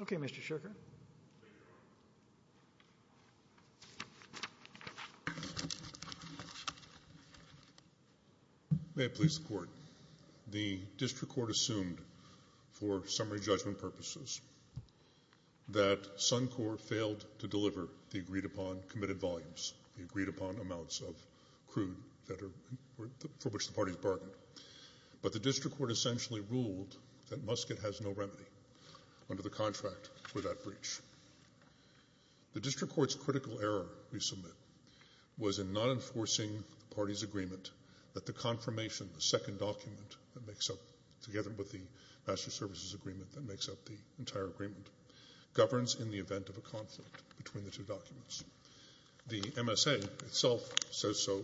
ok, Mr. Sherkert.. May it please the court. The district court assumed for summary judgment purposes that Suncor failed to deliver the agreed upon committed volumes, the agreed upon amounts of crude for which the parties bargained. But the district court essentially ruled that Muscat has no remedy under the contract for that breach. The district court's critical error, we submit, was in not enforcing the parties' agreement that the confirmation, the second document that makes up, together with the master services agreement that makes up the entire agreement, governs in the event of a conflict between the two documents. The MSA itself says so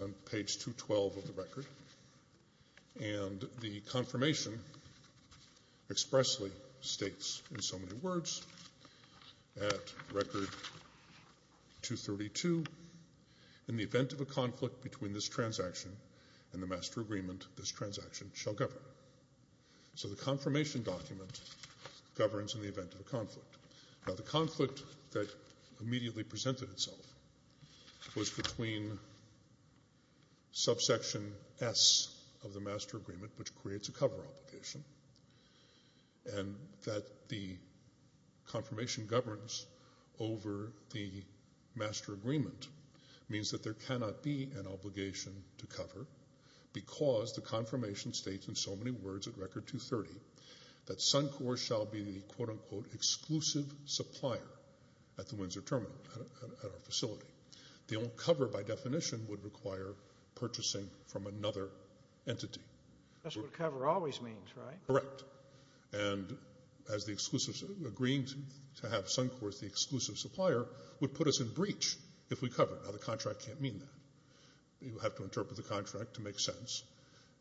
on page 212 of the record, and the confirmation expressly states in so many words, at record 232, in the event of a conflict between this transaction and the master agreement, this transaction shall govern. So the confirmation document governs in the event of a conflict. Now the conflict that immediately presented itself was between subsection S of the master agreement, which creates a cover obligation, and that the confirmation governs over the master agreement means that there cannot be an obligation to cover because the confirmation states in so many words at record 230 that Suncor shall be the quote-unquote exclusive supplier at the Windsor Terminal, at our facility. The only cover, by definition, would require purchasing from another entity. That's what cover always means, right? Correct. And as the exclusive, agreeing to have Suncor as the exclusive supplier would put us in breach if we cover it. Now the contract can't mean that. You have to interpret the contract to make sense.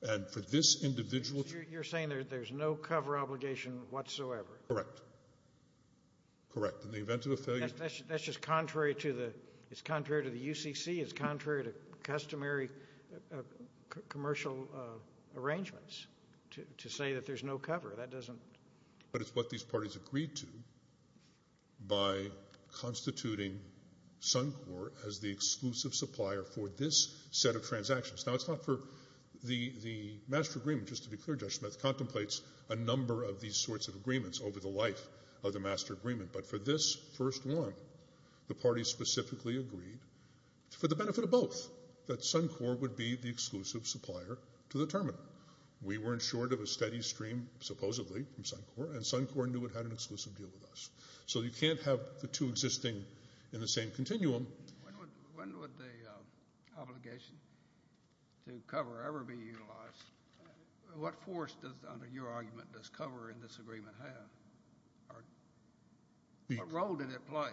And for this individual... You're saying there's no cover obligation whatsoever? Correct. Correct. In the event of a failure... That's just contrary to the UCC. It's contrary to customary commercial arrangements to say that there's no cover. That doesn't... But it's what these parties agreed to by constituting Suncor as the exclusive supplier for this set of transactions. Now it's not for the master agreement, just to be clear, Judge Smith contemplates a number of these sorts of agreements over the life of the master agreement. But for this first one, the parties specifically agreed, for the benefit of both, that Suncor would be the exclusive supplier to the terminal. We weren't short of a steady stream, supposedly, from Suncor, and Suncor knew it had an exclusive deal with us. So you can't have the two existing in the same continuum... When would the obligation to cover ever be utilized? What force does, under your argument, does cover in this agreement have? What role did it play?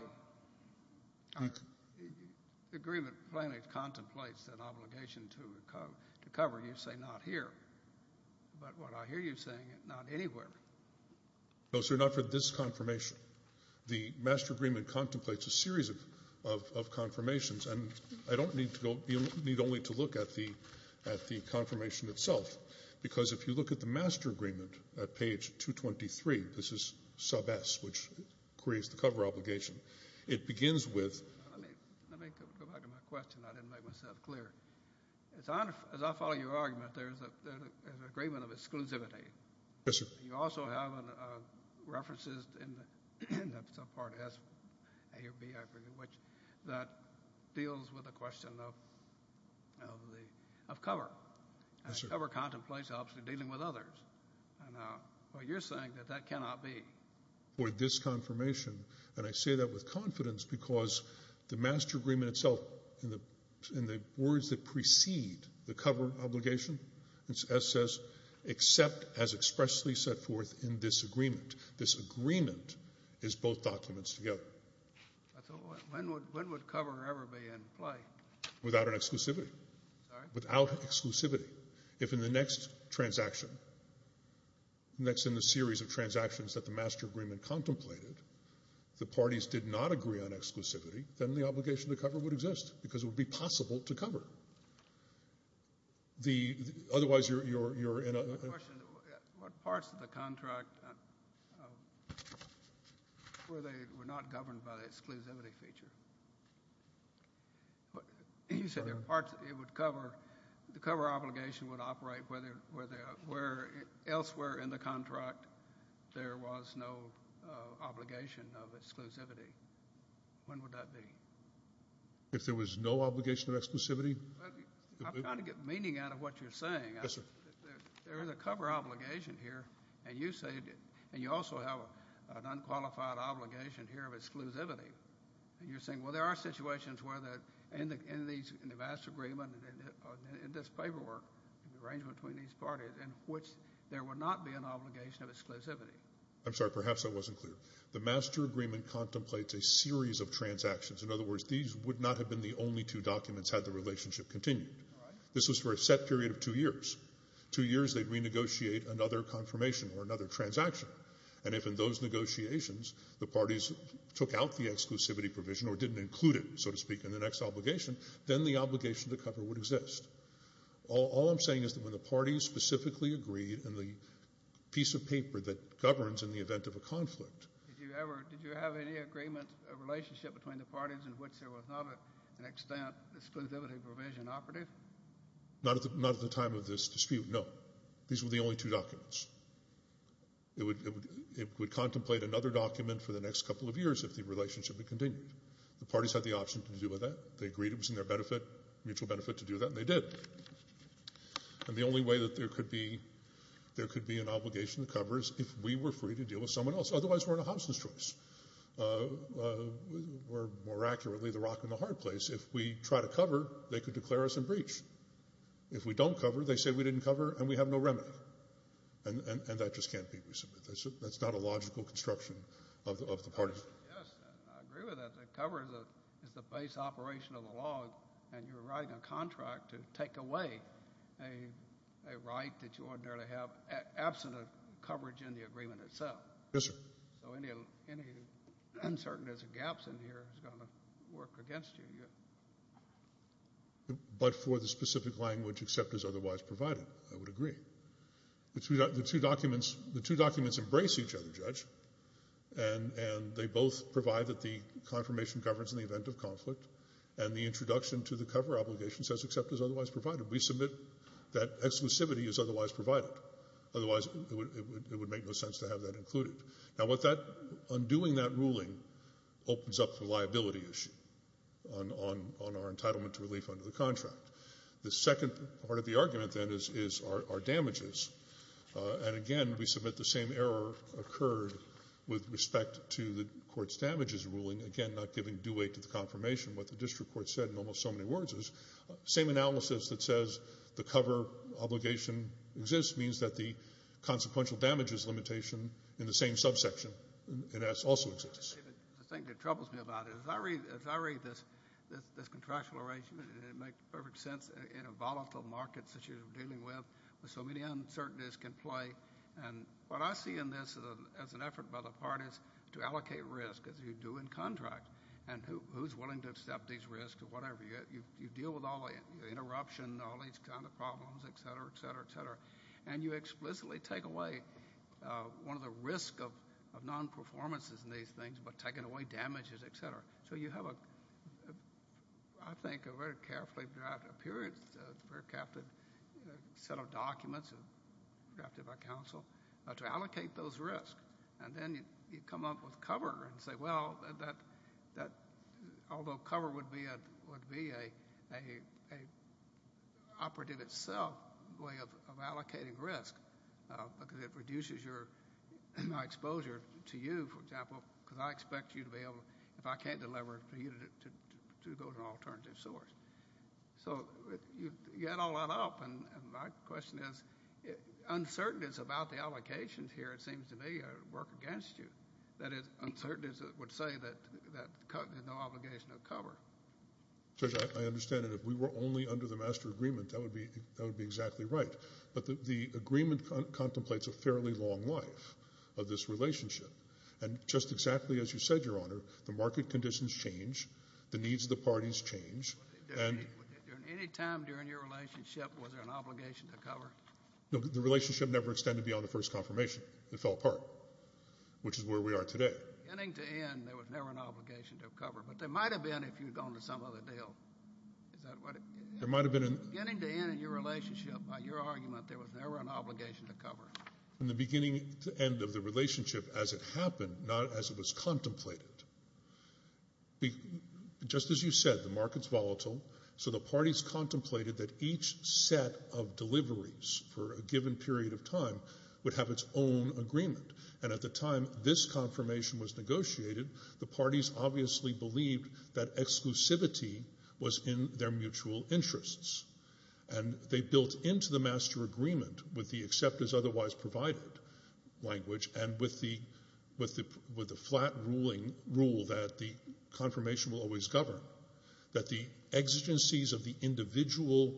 The agreement plainly contemplates an obligation to cover, you say not here, but what I hear you saying, not anywhere. No, sir, not for this confirmation. The master agreement contemplates a series of confirmations, and I don't need only to look at the confirmation itself, because if you look at the master agreement at page 223, this is sub S, which creates the cover obligation. It begins with... Let me go back to my question. I didn't make myself clear. As I follow your argument, there's an agreement of exclusivity. Yes, sir. You also have references in the subpart S, A or B, I forget which, that deals with the question of cover. Yes, sir. Cover contemplates, obviously, dealing with others, and you're saying that that cannot be. For this confirmation, and I say that with confidence, because the master agreement itself, in the words that precede the cover obligation, S says, except as expressly set forth in this agreement. This agreement is both documents together. When would cover ever be in play? Without an exclusivity. Sorry? Without exclusivity. If in the next transaction, next in the series of transactions that the master agreement contemplated, the parties did not agree on exclusivity, then the obligation to cover would exist, because it would be possible to cover. Otherwise you're in a... My question is, what parts of the contract were not governed by the exclusivity feature? You said there were parts that it would cover. The cover obligation would operate where elsewhere in the contract there was no obligation of exclusivity. When would that be? If there was no obligation of exclusivity? I'm trying to get meaning out of what you're saying. Yes, sir. There is a cover obligation here, and you also have an unqualified obligation here of exclusivity. You're saying, well, there are situations where, in the master agreement, in this paperwork, in the arrangement between these parties, in which there would not be an obligation of exclusivity. I'm sorry. Perhaps I wasn't clear. The master agreement contemplates a series of transactions. In other words, these would not have been the only two documents had the relationship continued. This was for a set period of two years. Two years, they'd renegotiate another confirmation or another transaction. And if in those negotiations the parties took out the exclusivity provision or didn't include it, so to speak, in the next obligation, then the obligation to cover would exist. All I'm saying is that when the parties specifically agreed in the piece of paper that governs in the event of a conflict. Did you have any agreement or relationship between the parties in which there was not to an extent an exclusivity provision operative? Not at the time of this dispute, no. These were the only two documents. It would contemplate another document for the next couple of years if the relationship had continued. The parties had the option to do with that. They agreed it was in their mutual benefit to do that, and they did. And the only way that there could be an obligation to cover is if we were free to deal with someone else. Otherwise, we're in a Hobson's choice. We're, more accurately, the rock in the hard place. If we try to cover, they could declare us in breach. If we don't cover, they say we didn't cover and we have no remedy. And that just can't be resubmitted. That's not a logical construction of the parties. Yes, I agree with that. The cover is the base operation of the law, and you're writing a contract to take away a right that you ordinarily have absent of coverage in the agreement itself. Yes, sir. So any uncertainties or gaps in here is going to work against you. But for the specific language except as otherwise provided, I would agree. The two documents embrace each other, Judge. And they both provide that the confirmation governs in the event of conflict, and the introduction to the cover obligation says except as otherwise provided. We submit that exclusivity is otherwise provided. Otherwise, it would make no sense to have that included. Now, undoing that ruling opens up the liability issue on our entitlement to relief under the contract. The second part of the argument, then, is our damages. And, again, we submit the same error occurred with respect to the court's damages ruling, again, not giving due weight to the confirmation. What the district court said in almost so many words is same analysis that says the cover obligation exists means that the consequential damages limitation in the same subsection also exists. The thing that troubles me about it, as I read this contractual arrangement, it makes perfect sense in a volatile market situation we're dealing with with so many uncertainties can play. And what I see in this as an effort by the parties to allocate risk, as you do in contracts, and who's willing to accept these risks or whatever. You deal with all the interruption, all these kind of problems, et cetera, et cetera, et cetera. And you explicitly take away one of the risks of non-performances in these things by taking away damages, et cetera. So you have, I think, a very carefully drafted set of documents drafted by counsel to allocate those risks. And then you come up with cover and say, well, although cover would be an operative itself, a way of allocating risk because it reduces your exposure to you, for example, because I expect you to be able, if I can't deliver it for you, to go to an alternative source. So you add all that up, and my question is, uncertainties about the allocations here, it seems to me, work against you. That is, uncertainties that would say that there's no obligation of cover. Judge, I understand, and if we were only under the master agreement, that would be exactly right. But the agreement contemplates a fairly long life of this relationship. And just exactly as you said, Your Honor, the market conditions change, the needs of the parties change. At any time during your relationship, was there an obligation to cover? No, the relationship never extended beyond the first confirmation. It fell apart, which is where we are today. Beginning to end, there was never an obligation to cover. But there might have been if you had gone to some other deal. Is that what it is? There might have been. Beginning to end in your relationship, by your argument, there was never an obligation to cover. In the beginning to end of the relationship, as it happened, not as it was contemplated, just as you said, the market's volatile. So the parties contemplated that each set of deliveries for a given period of time would have its own agreement. And at the time this confirmation was negotiated, the parties obviously believed that exclusivity was in their mutual interests. And they built into the master agreement with the accept as otherwise provided language and with the flat rule that the confirmation will always govern, that the exigencies of the individual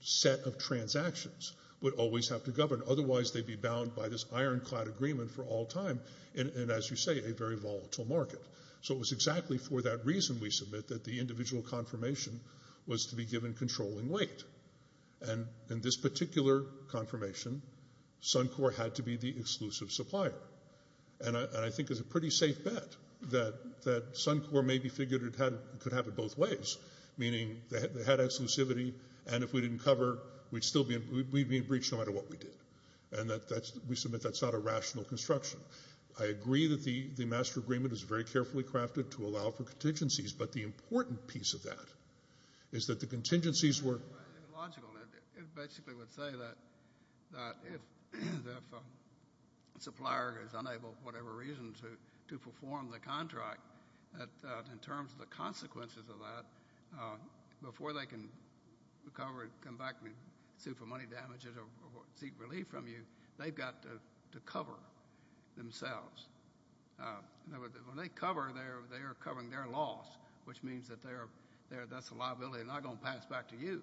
set of transactions would always have to govern. Otherwise, they'd be bound by this ironclad agreement for all time in, as you say, a very volatile market. So it was exactly for that reason, we submit, that the individual confirmation was to be given controlling weight. And in this particular confirmation, Suncor had to be the exclusive supplier. And I think it's a pretty safe bet that Suncor maybe figured it could happen both ways, meaning they had exclusivity, and if we didn't cover, we'd be in breach no matter what we did. And we submit that's not a rational construction. I agree that the master agreement is very carefully crafted to allow for contingencies, but the important piece of that is that the contingencies were ____. It's logical. It basically would say that if the supplier is unable for whatever reason to perform the contract, in terms of the consequences of that, before they can recover and come back and sue for money damages or seek relief from you, they've got to cover themselves. When they cover, they are covering their loss, which means that that's a liability they're not going to pass back to you.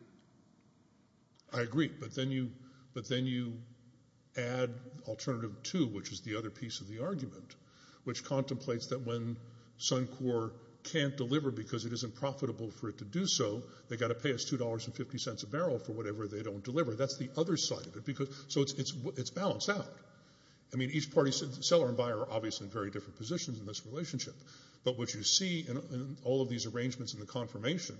I agree, but then you add alternative two, which is the other piece of the argument, which contemplates that when Suncor can't deliver because it isn't profitable for it to do so, they've got to pay us $2.50 a barrel for whatever they don't deliver. That's the other side of it. So it's balanced out. I mean, each party, seller and buyer, are obviously in very different positions in this relationship. But what you see in all of these arrangements and the confirmation,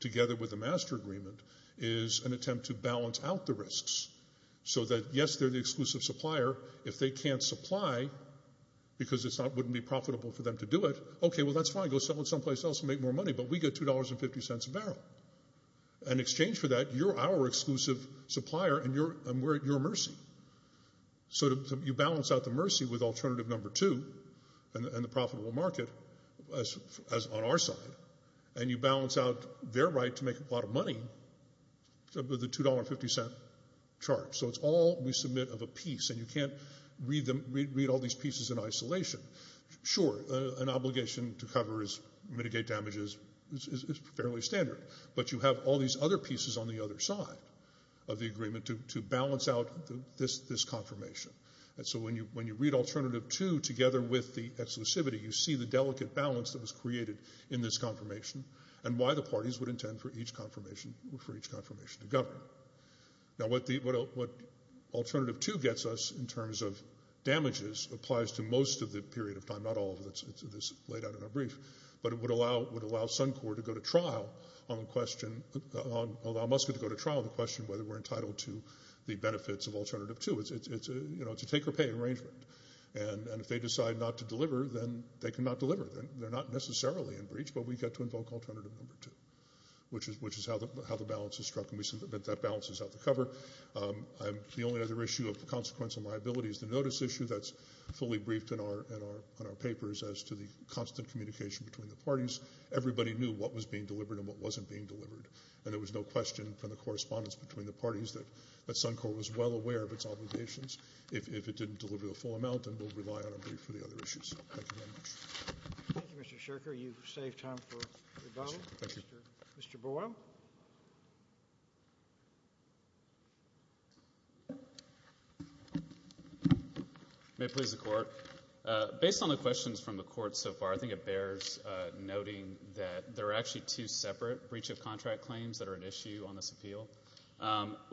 together with the master agreement, is an attempt to balance out the risks so that, yes, they're the exclusive supplier. If they can't supply because it wouldn't be profitable for them to do it, okay, well, that's fine. Go sell it someplace else and make more money, but we get $2.50 a barrel. In exchange for that, you're our exclusive supplier and we're at your mercy. So you balance out the mercy with alternative number two and the profitable market on our side, and you balance out their right to make a lot of money with a $2.50 charge. So it's all we submit of a piece, and you can't read all these pieces in isolation. Sure, an obligation to cover is mitigate damages is fairly standard, but you have all these other pieces on the other side of the agreement to balance out this confirmation. So when you read alternative two together with the exclusivity, you see the delicate balance that was created in this confirmation and why the parties would intend for each confirmation to govern. Now what alternative two gets us in terms of damages applies to most of the period of time, not all of it that's laid out in our brief, but it would allow Suncor to go to trial on the question whether we're entitled to the benefits of alternative two. It's a take-or-pay arrangement, and if they decide not to deliver, then they cannot deliver. They're not necessarily in breach, but we get to invoke alternative number two, which is how the balance is struck, and we submit that balance is out the cover. The only other issue of consequence and liability is the notice issue that's fully briefed in our papers as to the constant communication between the parties. Everybody knew what was being delivered and what wasn't being delivered, and there was no question from the correspondence between the parties that Suncor was well aware of its obligations. If it didn't deliver the full amount, then we'll rely on a brief for the other issues. Thank you very much. Thank you, Mr. Sherker. You've saved time for rebuttal. Thank you. Mr. Boyle. May it please the Court. Based on the questions from the Court so far, I think it bears noting that there are actually two separate breach of contract claims that are at issue on this appeal.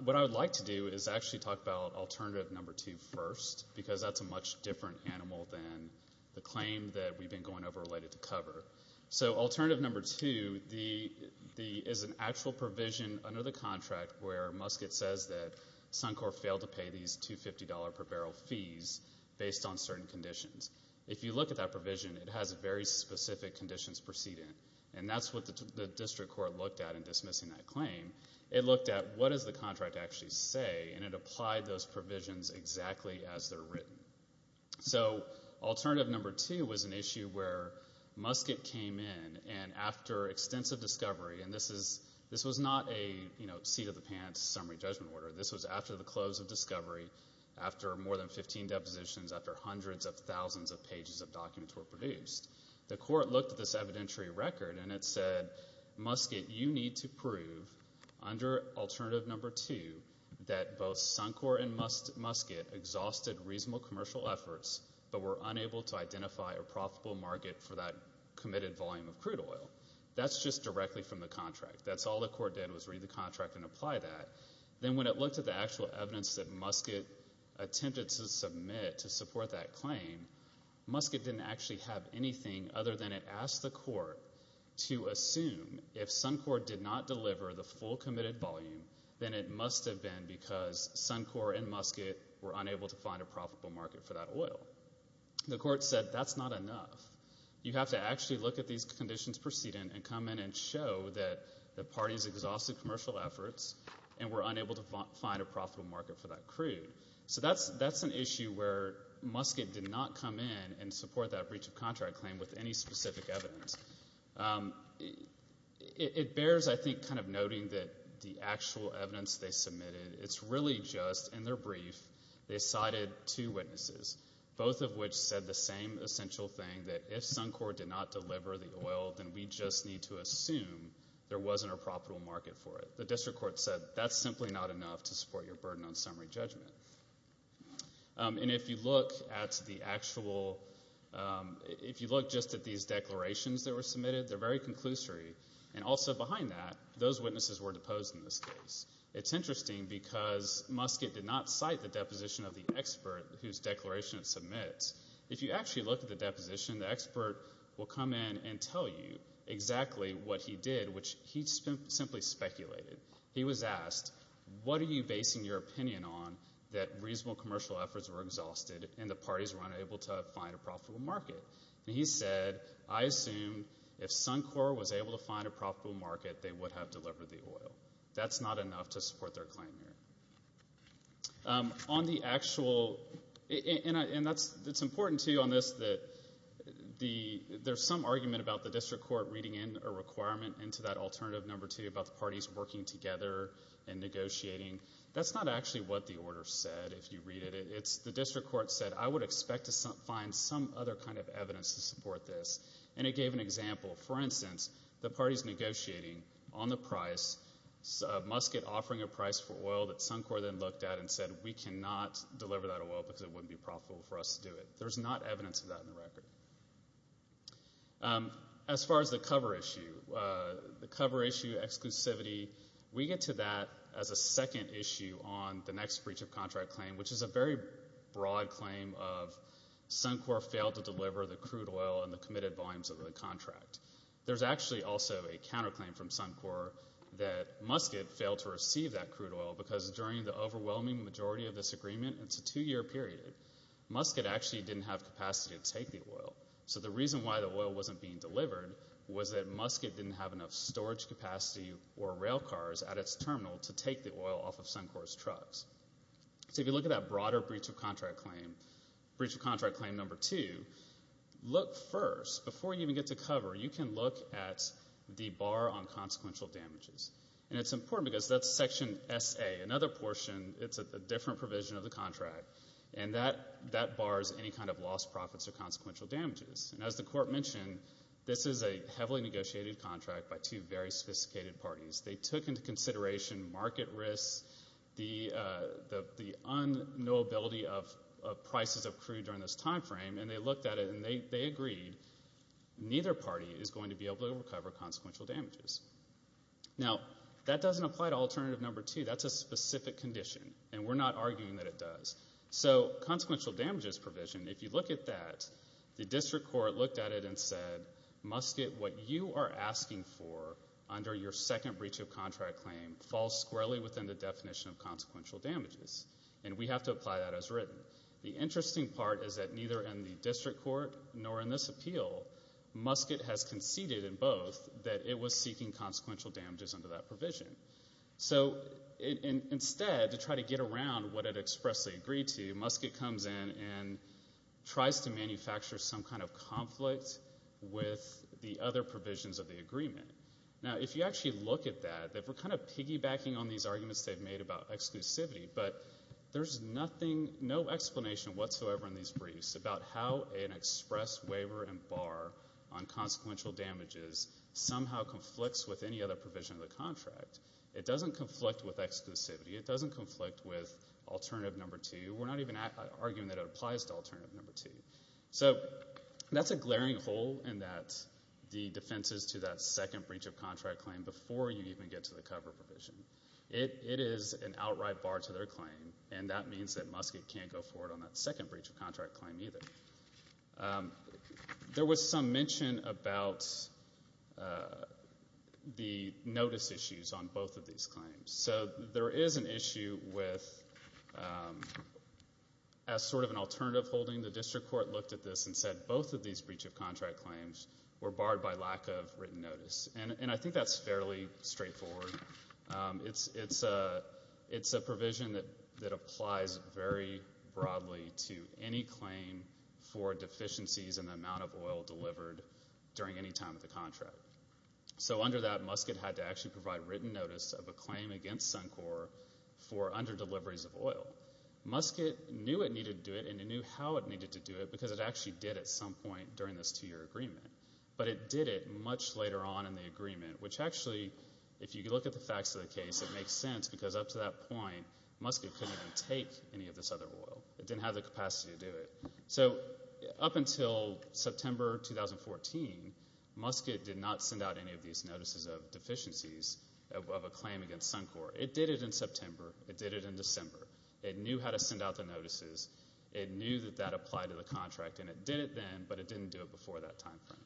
What I would like to do is actually talk about alternative number two first because that's a much different animal than the claim that we've been going over related to cover. So alternative number two is an actual provision under the contract where Muscat says that Suncor failed to pay these $250 per barrel fees based on certain conditions. If you look at that provision, it has very specific conditions proceeding, and that's what the district court looked at in dismissing that claim. It looked at what does the contract actually say, and it applied those provisions exactly as they're written. So alternative number two was an issue where Muscat came in, and after extensive discovery, and this was not a seat-of-the-pants summary judgment order. This was after the close of discovery, after more than 15 depositions, after hundreds of thousands of pages of documents were produced. The court looked at this evidentiary record, and it said, Muscat, you need to prove under alternative number two that both Suncor and Muscat exhausted reasonable commercial efforts but were unable to identify a profitable market for that committed volume of crude oil. That's just directly from the contract. That's all the court did was read the contract and apply that. Then when it looked at the actual evidence that Muscat attempted to submit to support that claim, Muscat didn't actually have anything other than it asked the court to assume if Suncor did not deliver the full committed volume, then it must have been because Suncor and Muscat were unable to find a profitable market for that oil. The court said that's not enough. You have to actually look at these conditions proceeding and come in and show that the parties exhausted commercial efforts and were unable to find a profitable market for that crude. So that's an issue where Muscat did not come in and support that breach of contract claim with any specific evidence. It bears, I think, kind of noting that the actual evidence they submitted, it's really just in their brief they cited two witnesses, both of which said the same essential thing that if Suncor did not deliver the oil, then we just need to assume there wasn't a profitable market for it. The district court said that's simply not enough to support your burden on summary judgment. If you look just at these declarations that were submitted, they're very conclusory. Also behind that, those witnesses were deposed in this case. It's interesting because Muscat did not cite the deposition of the expert whose declaration it submits. If you actually look at the deposition, the expert will come in and tell you exactly what he did, which he simply speculated. He was asked, what are you basing your opinion on that reasonable commercial efforts were exhausted and the parties were unable to find a profitable market? And he said, I assume if Suncor was able to find a profitable market, they would have delivered the oil. That's not enough to support their claim here. On the actual, and it's important, too, on this, there's some argument about the district court reading in a requirement into that alternative number two about the parties working together and negotiating. That's not actually what the order said, if you read it. The district court said, I would expect to find some other kind of evidence to support this. And it gave an example. For instance, the parties negotiating on the price, Muscat offering a price for oil that Suncor then looked at and said we cannot deliver that oil because it wouldn't be profitable for us to do it. There's not evidence of that in the record. As far as the cover issue, the cover issue, exclusivity, we get to that as a second issue on the next breach of contract claim, which is a very broad claim of Suncor failed to deliver the crude oil in the committed volumes of the contract. There's actually also a counterclaim from Suncor that Muscat failed to receive that crude oil because during the overwhelming majority of this agreement, it's a two-year period, Muscat actually didn't have capacity to take the oil. So the reason why the oil wasn't being delivered was that Muscat didn't have enough storage capacity or rail cars at its terminal to take the oil off of Suncor's trucks. So if you look at that broader breach of contract claim, breach of contract claim number two, look first, before you even get to cover, you can look at the bar on consequential damages. And it's important because that's section SA, another portion. It's a different provision of the contract. And that bars any kind of lost profits or consequential damages. And as the court mentioned, this is a heavily negotiated contract by two very sophisticated parties. They took into consideration market risks, the unknowability of prices of crude during this time frame, and they looked at it and they agreed neither party is going to be able to recover consequential damages. Now, that doesn't apply to alternative number two. That's a specific condition, and we're not arguing that it does. So consequential damages provision, if you look at that, the district court looked at it and said, Muscat, what you are asking for under your second breach of contract claim falls squarely within the definition of consequential damages, and we have to apply that as written. The interesting part is that neither in the district court nor in this appeal, Muscat has conceded in both that it was seeking consequential damages under that provision. So instead, to try to get around what it expressly agreed to, Muscat comes in and tries to manufacture some kind of conflict with the other provisions of the agreement. Now, if you actually look at that, they were kind of piggybacking on these arguments they've made about exclusivity, but there's no explanation whatsoever in these briefs about how an express waiver and bar on consequential damages somehow conflicts with any other provision of the contract. It doesn't conflict with exclusivity. It doesn't conflict with alternative number two. We're not even arguing that it applies to alternative number two. So that's a glaring hole in the defenses to that second breach of contract claim before you even get to the cover provision. It is an outright bar to their claim, and that means that Muscat can't go forward on that second breach of contract claim either. There was some mention about the notice issues on both of these claims. So there is an issue with, as sort of an alternative holding, the district court looked at this and said both of these breach of contract claims were barred by lack of written notice, and I think that's fairly straightforward. It's a provision that applies very broadly to any claim for deficiencies in the amount of oil delivered during any time of the contract. So under that, Muscat had to actually provide written notice of a claim against Suncor for underdeliveries of oil. Muscat knew it needed to do it, and it knew how it needed to do it, because it actually did at some point during this two-year agreement, but it did it much later on in the agreement, which actually, if you look at the facts of the case, it makes sense, because up to that point, Muscat couldn't even take any of this other oil. It didn't have the capacity to do it. So up until September 2014, Muscat did not send out any of these notices of deficiencies of a claim against Suncor. It did it in September. It did it in December. It knew how to send out the notices. It knew that that applied to the contract, and it did it then, but it didn't do it before that time frame.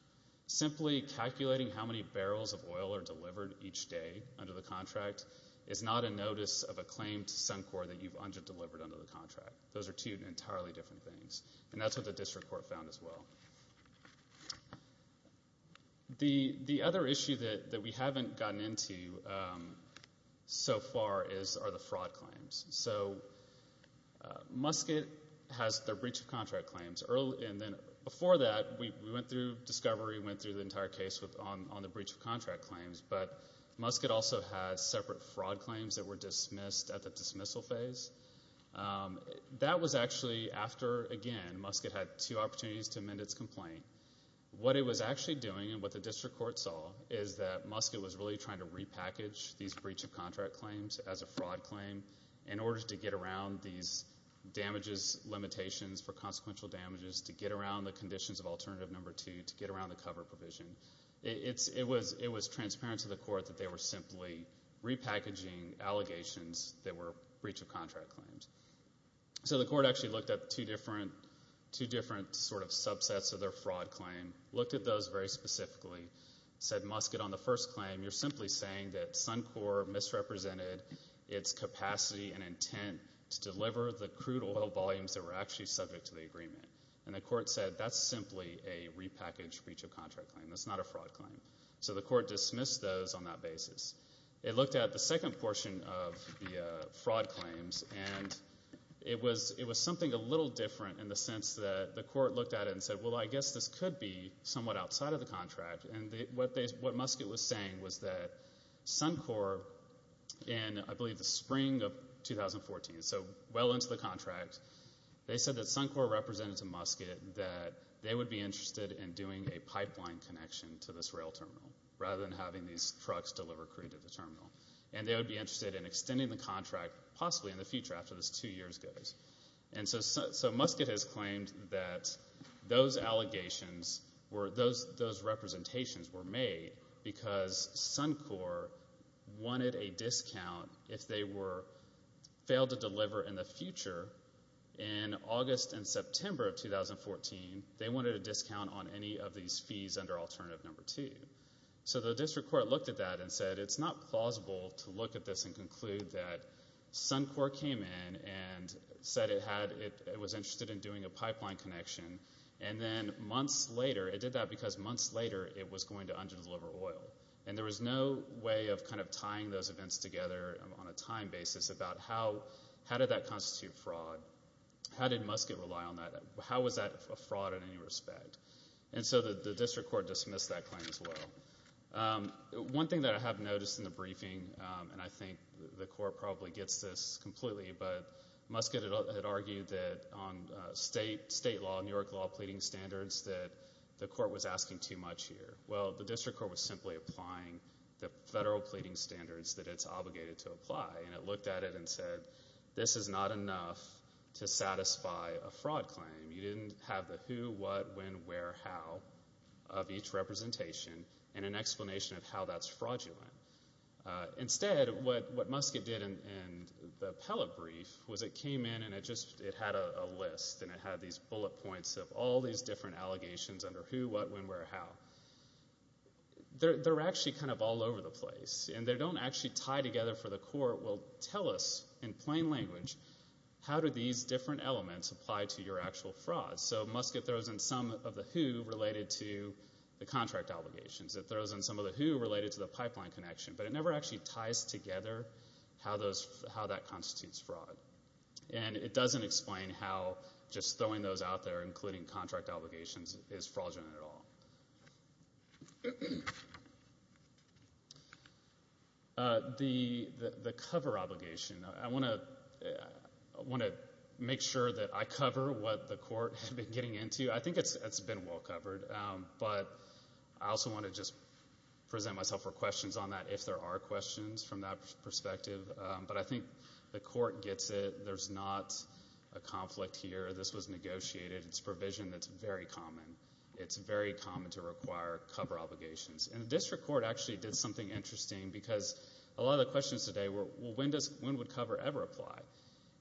Simply calculating how many barrels of oil are delivered each day under the contract is not a notice of a claim to Suncor that you've underdelivered under the contract. Those are two entirely different things, and that's what the district court found as well. The other issue that we haven't gotten into so far are the fraud claims. So Muscat has their breach of contract claims. Before that, we went through discovery, went through the entire case on the breach of contract claims, but Muscat also had separate fraud claims that were dismissed at the dismissal phase. That was actually after, again, Muscat had two opportunities to amend its complaint. What it was actually doing and what the district court saw is that Muscat was really trying to repackage these breach of contract claims as a fraud claim in order to get around these damages, limitations for consequential damages, to get around the conditions of alternative number 2, to get around the cover provision. It was transparent to the court that they were simply repackaging allegations that were breach of contract claims. So the court actually looked at two different sort of subsets of their fraud claim, looked at those very specifically, said, Muscat, on the first claim, you're simply saying that Suncor misrepresented its capacity and intent to deliver the crude oil volumes that were actually subject to the agreement. And the court said that's simply a repackaged breach of contract claim. That's not a fraud claim. So the court dismissed those on that basis. It looked at the second portion of the fraud claims, and it was something a little different in the sense that the court looked at it and said, well, I guess this could be somewhat outside of the contract. And what Muscat was saying was that Suncor in, I believe, the spring of 2014, so well into the contract, they said that Suncor represented to Muscat that they would be interested in doing a pipeline connection to this rail terminal rather than having these trucks deliver crude to the terminal, and they would be interested in extending the contract possibly in the future after this two years goes. And so Muscat has claimed that those representations were made because Suncor wanted a discount if they failed to deliver in the future in August and September of 2014, they wanted a discount on any of these fees under alternative number two. So the district court looked at that and said it's not plausible to look at this and conclude that Suncor came in and said it was interested in doing a pipeline connection, and then months later it did that because months later it was going to under-deliver oil. And there was no way of kind of tying those events together on a time basis about how did that constitute fraud. How did Muscat rely on that? How was that a fraud in any respect? And so the district court dismissed that claim as well. One thing that I have noticed in the briefing, and I think the court probably gets this completely, but Muscat had argued that on state law, New York law pleading standards, that the court was asking too much here. Well, the district court was simply applying the federal pleading standards that it's obligated to apply, and it looked at it and said this is not enough to satisfy a fraud claim. You didn't have the who, what, when, where, how of each representation and an explanation of how that's fraudulent. Instead, what Muscat did in the appellate brief was it came in and it had a list and it had these bullet points of all these different allegations under who, what, when, where, how. They're actually kind of all over the place, and they don't actually tie together for the court. The court will tell us in plain language how do these different elements apply to your actual fraud. So Muscat throws in some of the who related to the contract obligations. It throws in some of the who related to the pipeline connection, but it never actually ties together how that constitutes fraud, and it doesn't explain how just throwing those out there, including contract obligations, is fraudulent at all. The cover obligation. I want to make sure that I cover what the court had been getting into. I think it's been well covered, but I also want to just present myself for questions on that if there are questions from that perspective, but I think the court gets it. There's not a conflict here. This was negotiated. It's provision that's very common. It's very common to require cover obligations, and the district court actually did something interesting because a lot of the questions today were when would cover ever apply,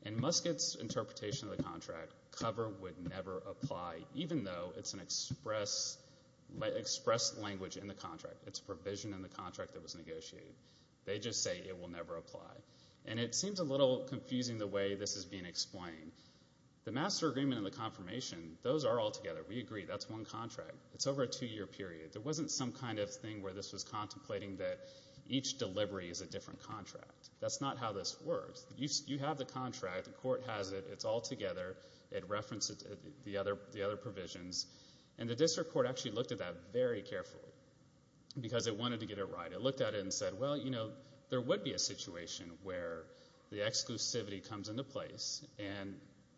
and Muscat's interpretation of the contract, cover would never apply, even though it's an express language in the contract. It's a provision in the contract that was negotiated. They just say it will never apply, and it seems a little confusing the way this is being explained. The master agreement and the confirmation, those are all together. We agree. That's one contract. It's over a two-year period. There wasn't some kind of thing where this was contemplating that each delivery is a different contract. That's not how this works. You have the contract. The court has it. It's all together. It references the other provisions, and the district court actually looked at that very carefully because it wanted to get it right. It looked at it and said, well, you know, there would be a situation where the exclusivity comes into place and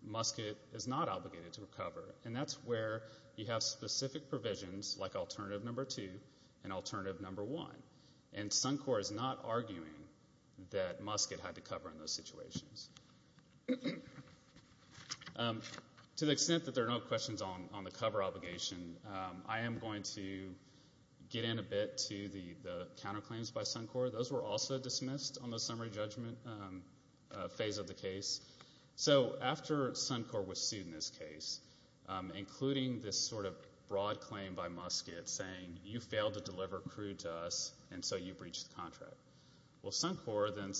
Muscat is not obligated to recover, and that's where you have specific provisions like alternative number two and alternative number one, and Suncor is not arguing that Muscat had to cover in those situations. To the extent that there are no questions on the cover obligation, I am going to get in a bit to the counterclaims by Suncor. Those were also dismissed on the summary judgment phase of the case. So after Suncor was sued in this case, including this sort of broad claim by Muscat saying you failed to deliver crude to us and so you breached the contract, well, Suncor then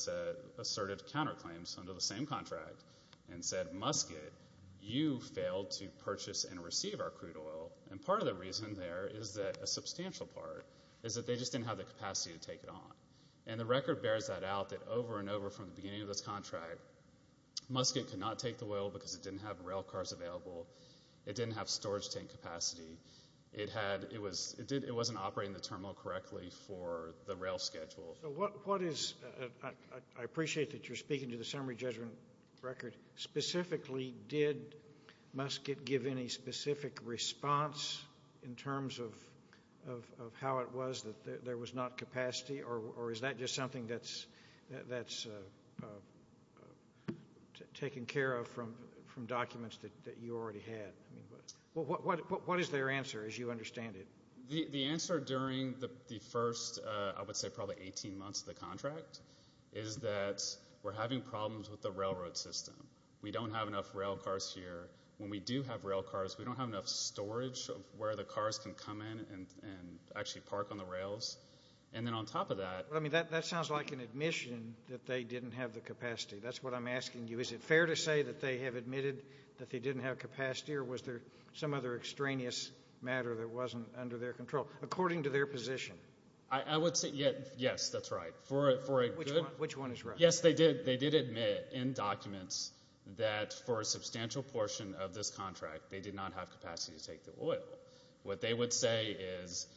asserted counterclaims under the same contract and said, Muscat, you failed to purchase and receive our crude oil, and part of the reason there is that a substantial part is that they just didn't have the capacity to take it on, and the record bears that out that over and over from the beginning of this contract, Muscat could not take the oil because it didn't have rail cars available. It didn't have storage tank capacity. It wasn't operating the terminal correctly for the rail schedule. So what is, I appreciate that you're speaking to the summary judgment record. Specifically, did Muscat give any specific response in terms of how it was that there was not capacity, or is that just something that's taken care of from documents that you already had? What is their answer, as you understand it? The answer during the first, I would say, probably 18 months of the contract is that we're having problems with the railroad system. We don't have enough rail cars here. When we do have rail cars, we don't have enough storage of where the cars can come in and actually park on the rails. And then on top of that— That sounds like an admission that they didn't have the capacity. That's what I'm asking you. Is it fair to say that they have admitted that they didn't have capacity, or was there some other extraneous matter that wasn't under their control, according to their position? I would say, yes, that's right. Which one is right? Yes, they did admit in documents that for a substantial portion of this contract, they did not have capacity to take the oil. What they would say is,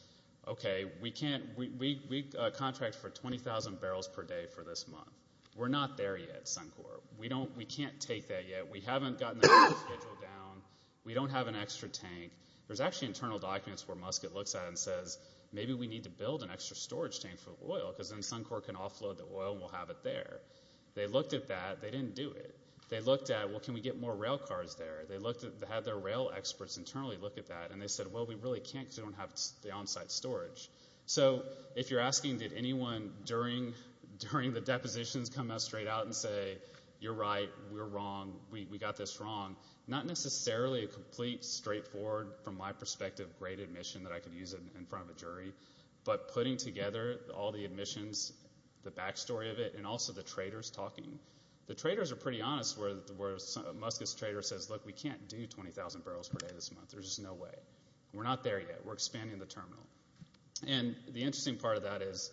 okay, we contract for 20,000 barrels per day for this month. We're not there yet, Suncor. We can't take that yet. We haven't gotten the oil schedule down. We don't have an extra tank. There's actually internal documents where Muscat looks at it and says, maybe we need to build an extra storage tank for oil because then Suncor can offload the oil and we'll have it there. They looked at that. They didn't do it. They looked at, well, can we get more rail cars there? They had their rail experts internally look at that, and they said, well, we really can't because we don't have the on-site storage. So if you're asking, did anyone during the depositions come out straight out and say, you're right, we're wrong, we got this wrong, not necessarily a complete, straightforward, from my perspective, great admission that I could use in front of a jury, but putting together all the admissions, the back story of it, and also the traders talking. The traders are pretty honest where Muscat's trader says, look, we can't do 20,000 barrels per day this month. There's just no way. We're not there yet. We're expanding the terminal. And the interesting part of that is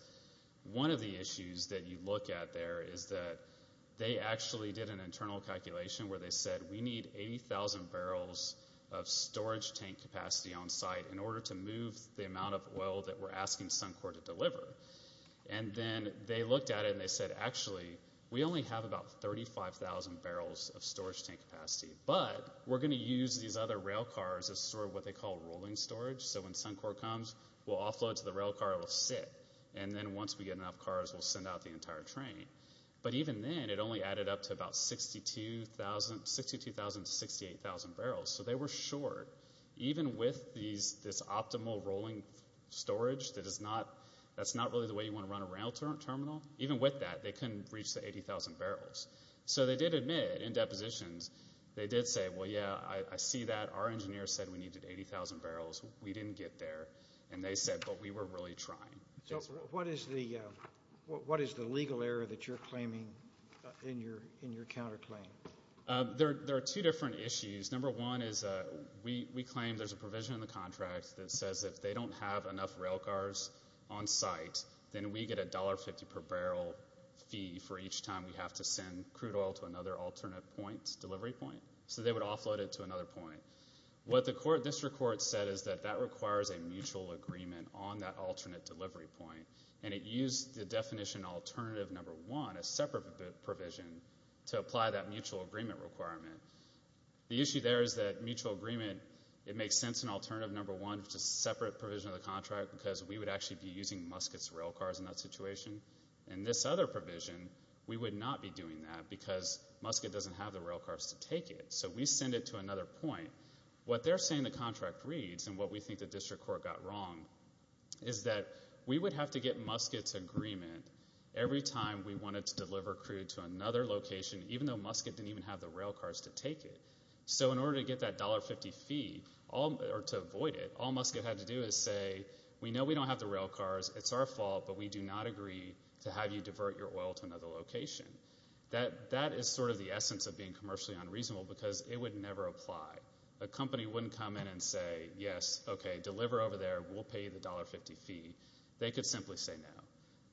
one of the issues that you look at there is that they actually did an internal calculation where they said, we need 80,000 barrels of storage tank capacity on site in order to move the amount of oil that we're asking Suncor to deliver. And then they looked at it and they said, actually, we only have about 35,000 barrels of storage tank capacity, but we're going to use these other rail cars as sort of what they call rolling storage. So when Suncor comes, we'll offload to the rail car. It will sit. And then once we get enough cars, we'll send out the entire train. But even then, it only added up to about 62,000 to 68,000 barrels. So they were short. Even with this optimal rolling storage, that's not really the way you want to run a rail terminal. Even with that, they couldn't reach the 80,000 barrels. So they did admit in depositions, they did say, well, yeah, I see that. Our engineer said we needed 80,000 barrels. We didn't get there. And they said, but we were really trying. So what is the legal error that you're claiming in your counterclaim? There are two different issues. Number one is we claim there's a provision in the contract that says if they don't have enough rail cars on site, then we get a $1.50 per barrel fee for each time we have to send crude oil to another alternate point, delivery point. So they would offload it to another point. What the district court said is that that requires a mutual agreement on that alternate delivery point. And it used the definition alternative number one, a separate provision, to apply that mutual agreement requirement. The issue there is that mutual agreement, it makes sense in alternative number one, which is a separate provision of the contract because we would actually be using Muscat's rail cars in that situation. In this other provision, we would not be doing that because Muscat doesn't have the rail cars to take it. So we send it to another point. What they're saying the contract reads, and what we think the district court got wrong, is that we would have to get Muscat's agreement every time we wanted to deliver crude to another location, even though Muscat didn't even have the rail cars to take it. So in order to get that $1.50 fee, or to avoid it, all Muscat had to do is say, we know we don't have the rail cars, it's our fault, but we do not agree to have you divert your oil to another location. That is sort of the essence of being commercially unreasonable because it would never apply. A company wouldn't come in and say, yes, okay, deliver over there, we'll pay you the $1.50 fee. They could simply say no.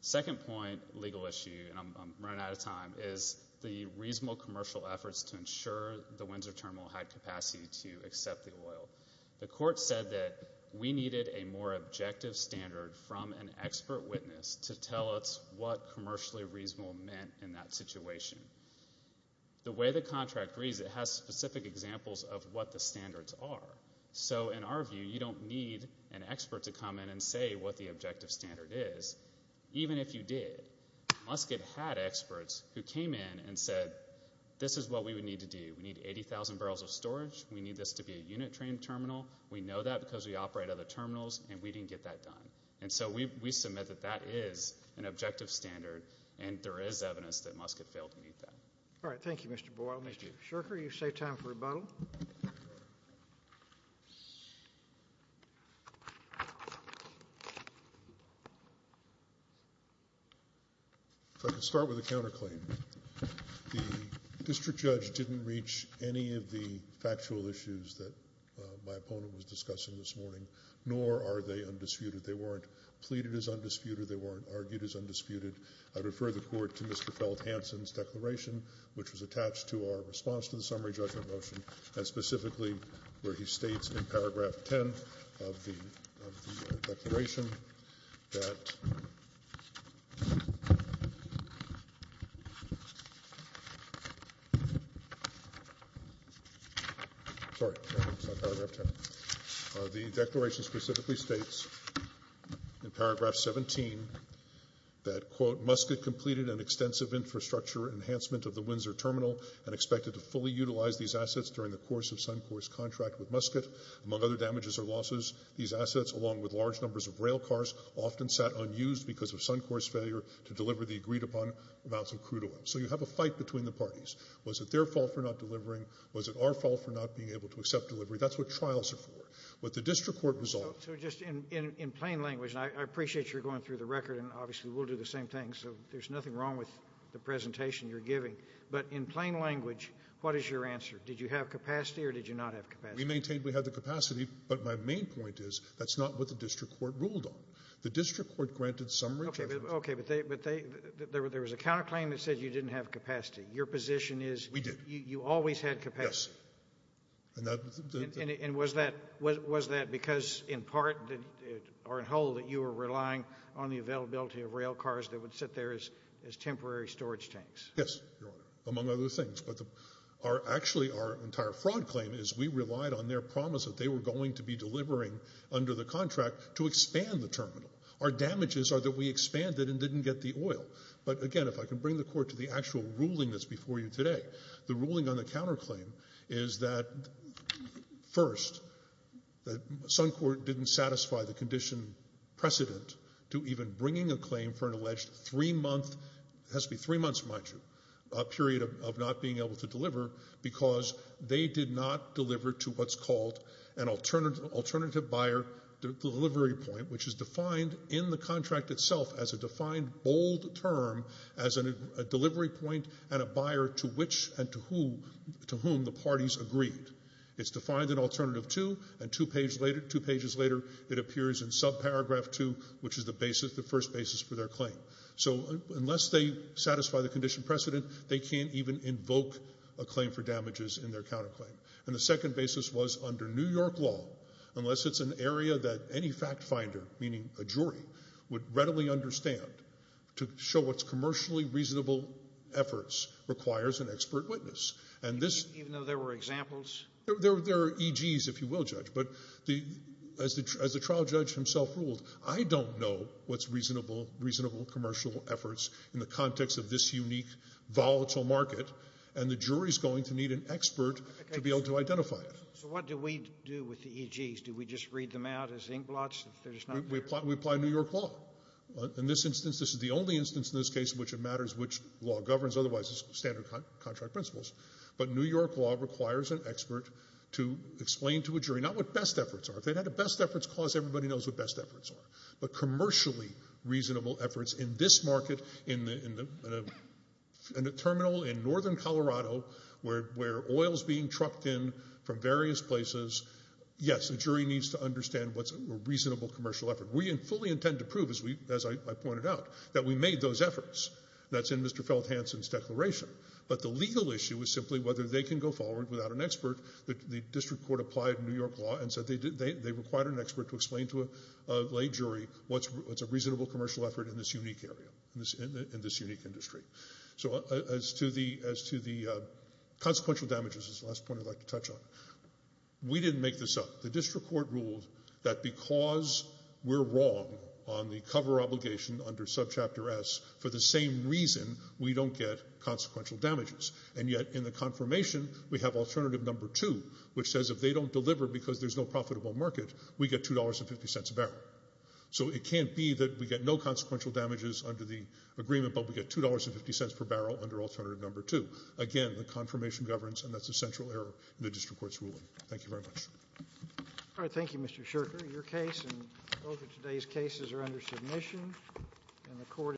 Second point, legal issue, and I'm running out of time, is the reasonable commercial efforts to ensure the Windsor Terminal had capacity to accept the oil. The court said that we needed a more objective standard from an expert witness to tell us what commercially reasonable meant in that situation. The way the contract reads, it has specific examples of what the standards are. So in our view, you don't need an expert to come in and say what the objective standard is, even if you did. Muscat had experts who came in and said, this is what we would need to do. We need 80,000 barrels of storage. We need this to be a unit-trained terminal. We know that because we operate other terminals, and we didn't get that done. And so we submit that that is an objective standard, and there is evidence that Muscat failed to meet that. All right, thank you, Mr. Boyle. Mr. Sherker, you've saved time for rebuttal. If I could start with a counterclaim. The district judge didn't reach any of the factual issues that my opponent was discussing this morning, nor are they undisputed. They weren't pleaded as undisputed. They weren't argued as undisputed. I refer the Court to Mr. Feldhansen's declaration, which was attached to our response to the summary judgment motion, and specifically where he states in paragraph 10 of the declaration that the declaration specifically states in paragraph 17 that, quote, Muscat completed an extensive infrastructure enhancement of the Windsor Terminal and expected to fully utilize these assets during the course of Suncor's contract with Muscat. Among other damages or losses, these assets, along with large numbers of rail cars, often sat unused because of Suncor's failure to deliver the agreed-upon amounts of crude oil. So you have a fight between the parties. Was it their fault for not delivering? Was it our fault for not being able to accept delivery? That's what trials are for. What the district court resolved— So just in plain language, and I appreciate you're going through the record, and obviously we'll do the same thing, so there's nothing wrong with the presentation you're giving. But in plain language, what is your answer? Did you have capacity or did you not have capacity? We maintained we had the capacity, but my main point is that's not what the district court ruled on. The district court granted summary judgment. Okay. But there was a counterclaim that said you didn't have capacity. Your position is— We did. You always had capacity. Yes. And was that because in part or in whole that you were relying on the availability of rail cars that would sit there as temporary storage tanks? Yes, Your Honor, among other things. But actually our entire fraud claim is we relied on their promise that they were going to be delivering under the contract to expand the terminal. Our damages are that we expanded and didn't get the oil. But again, if I can bring the court to the actual ruling that's before you today, the ruling on the counterclaim is that, first, Suncorp didn't satisfy the condition precedent to even bringing a claim for an alleged three-month— it has to be three months, mind you—period of not being able to deliver because they did not deliver to what's called an alternative buyer delivery point, which is defined in the contract itself as a defined bold term as a delivery point and a buyer to which and to whom the parties agreed. It's defined in alternative two, and two pages later it appears in subparagraph two, which is the first basis for their claim. So unless they satisfy the condition precedent, they can't even invoke a claim for damages in their counterclaim. And the second basis was under New York law, unless it's an area that any fact finder, meaning a jury, would readily understand to show what's commercially reasonable efforts requires an expert witness. Even though there were examples? There are EGs, if you will, Judge. But as the trial judge himself ruled, I don't know what's reasonable commercial efforts in the context of this unique volatile market, and the jury's going to need an expert to be able to identify it. So what do we do with the EGs? Do we just read them out as inkblots? We apply New York law. In this instance, this is the only instance in this case in which it matters which law governs, otherwise it's standard contract principles. But New York law requires an expert to explain to a jury not what best efforts are. If they had a best efforts clause, everybody knows what best efforts are. But commercially reasonable efforts in this market, in a terminal in northern Colorado where oil is being trucked in from various places, yes, a jury needs to understand what's a reasonable commercial effort. We fully intend to prove, as I pointed out, that we made those efforts. That's in Mr. Felthansen's declaration. But the legal issue is simply whether they can go forward without an expert. The district court applied New York law and said they required an expert to explain to a lay jury what's a reasonable commercial effort in this unique area, in this unique industry. So as to the consequential damages is the last point I'd like to touch on. We didn't make this up. The district court ruled that because we're wrong on the cover obligation under subchapter S, for the same reason, we don't get consequential damages. And yet in the confirmation, we have alternative number two, which says if they don't deliver because there's no profitable market, we get $2.50 a barrel. So it can't be that we get no consequential damages under the agreement, but we get $2.50 per barrel under alternative number two. Again, the confirmation governs, and that's a central error in the district court's ruling. Thank you very much. All right. Thank you, Mr. Shurker. Your case and both of today's cases are under submission.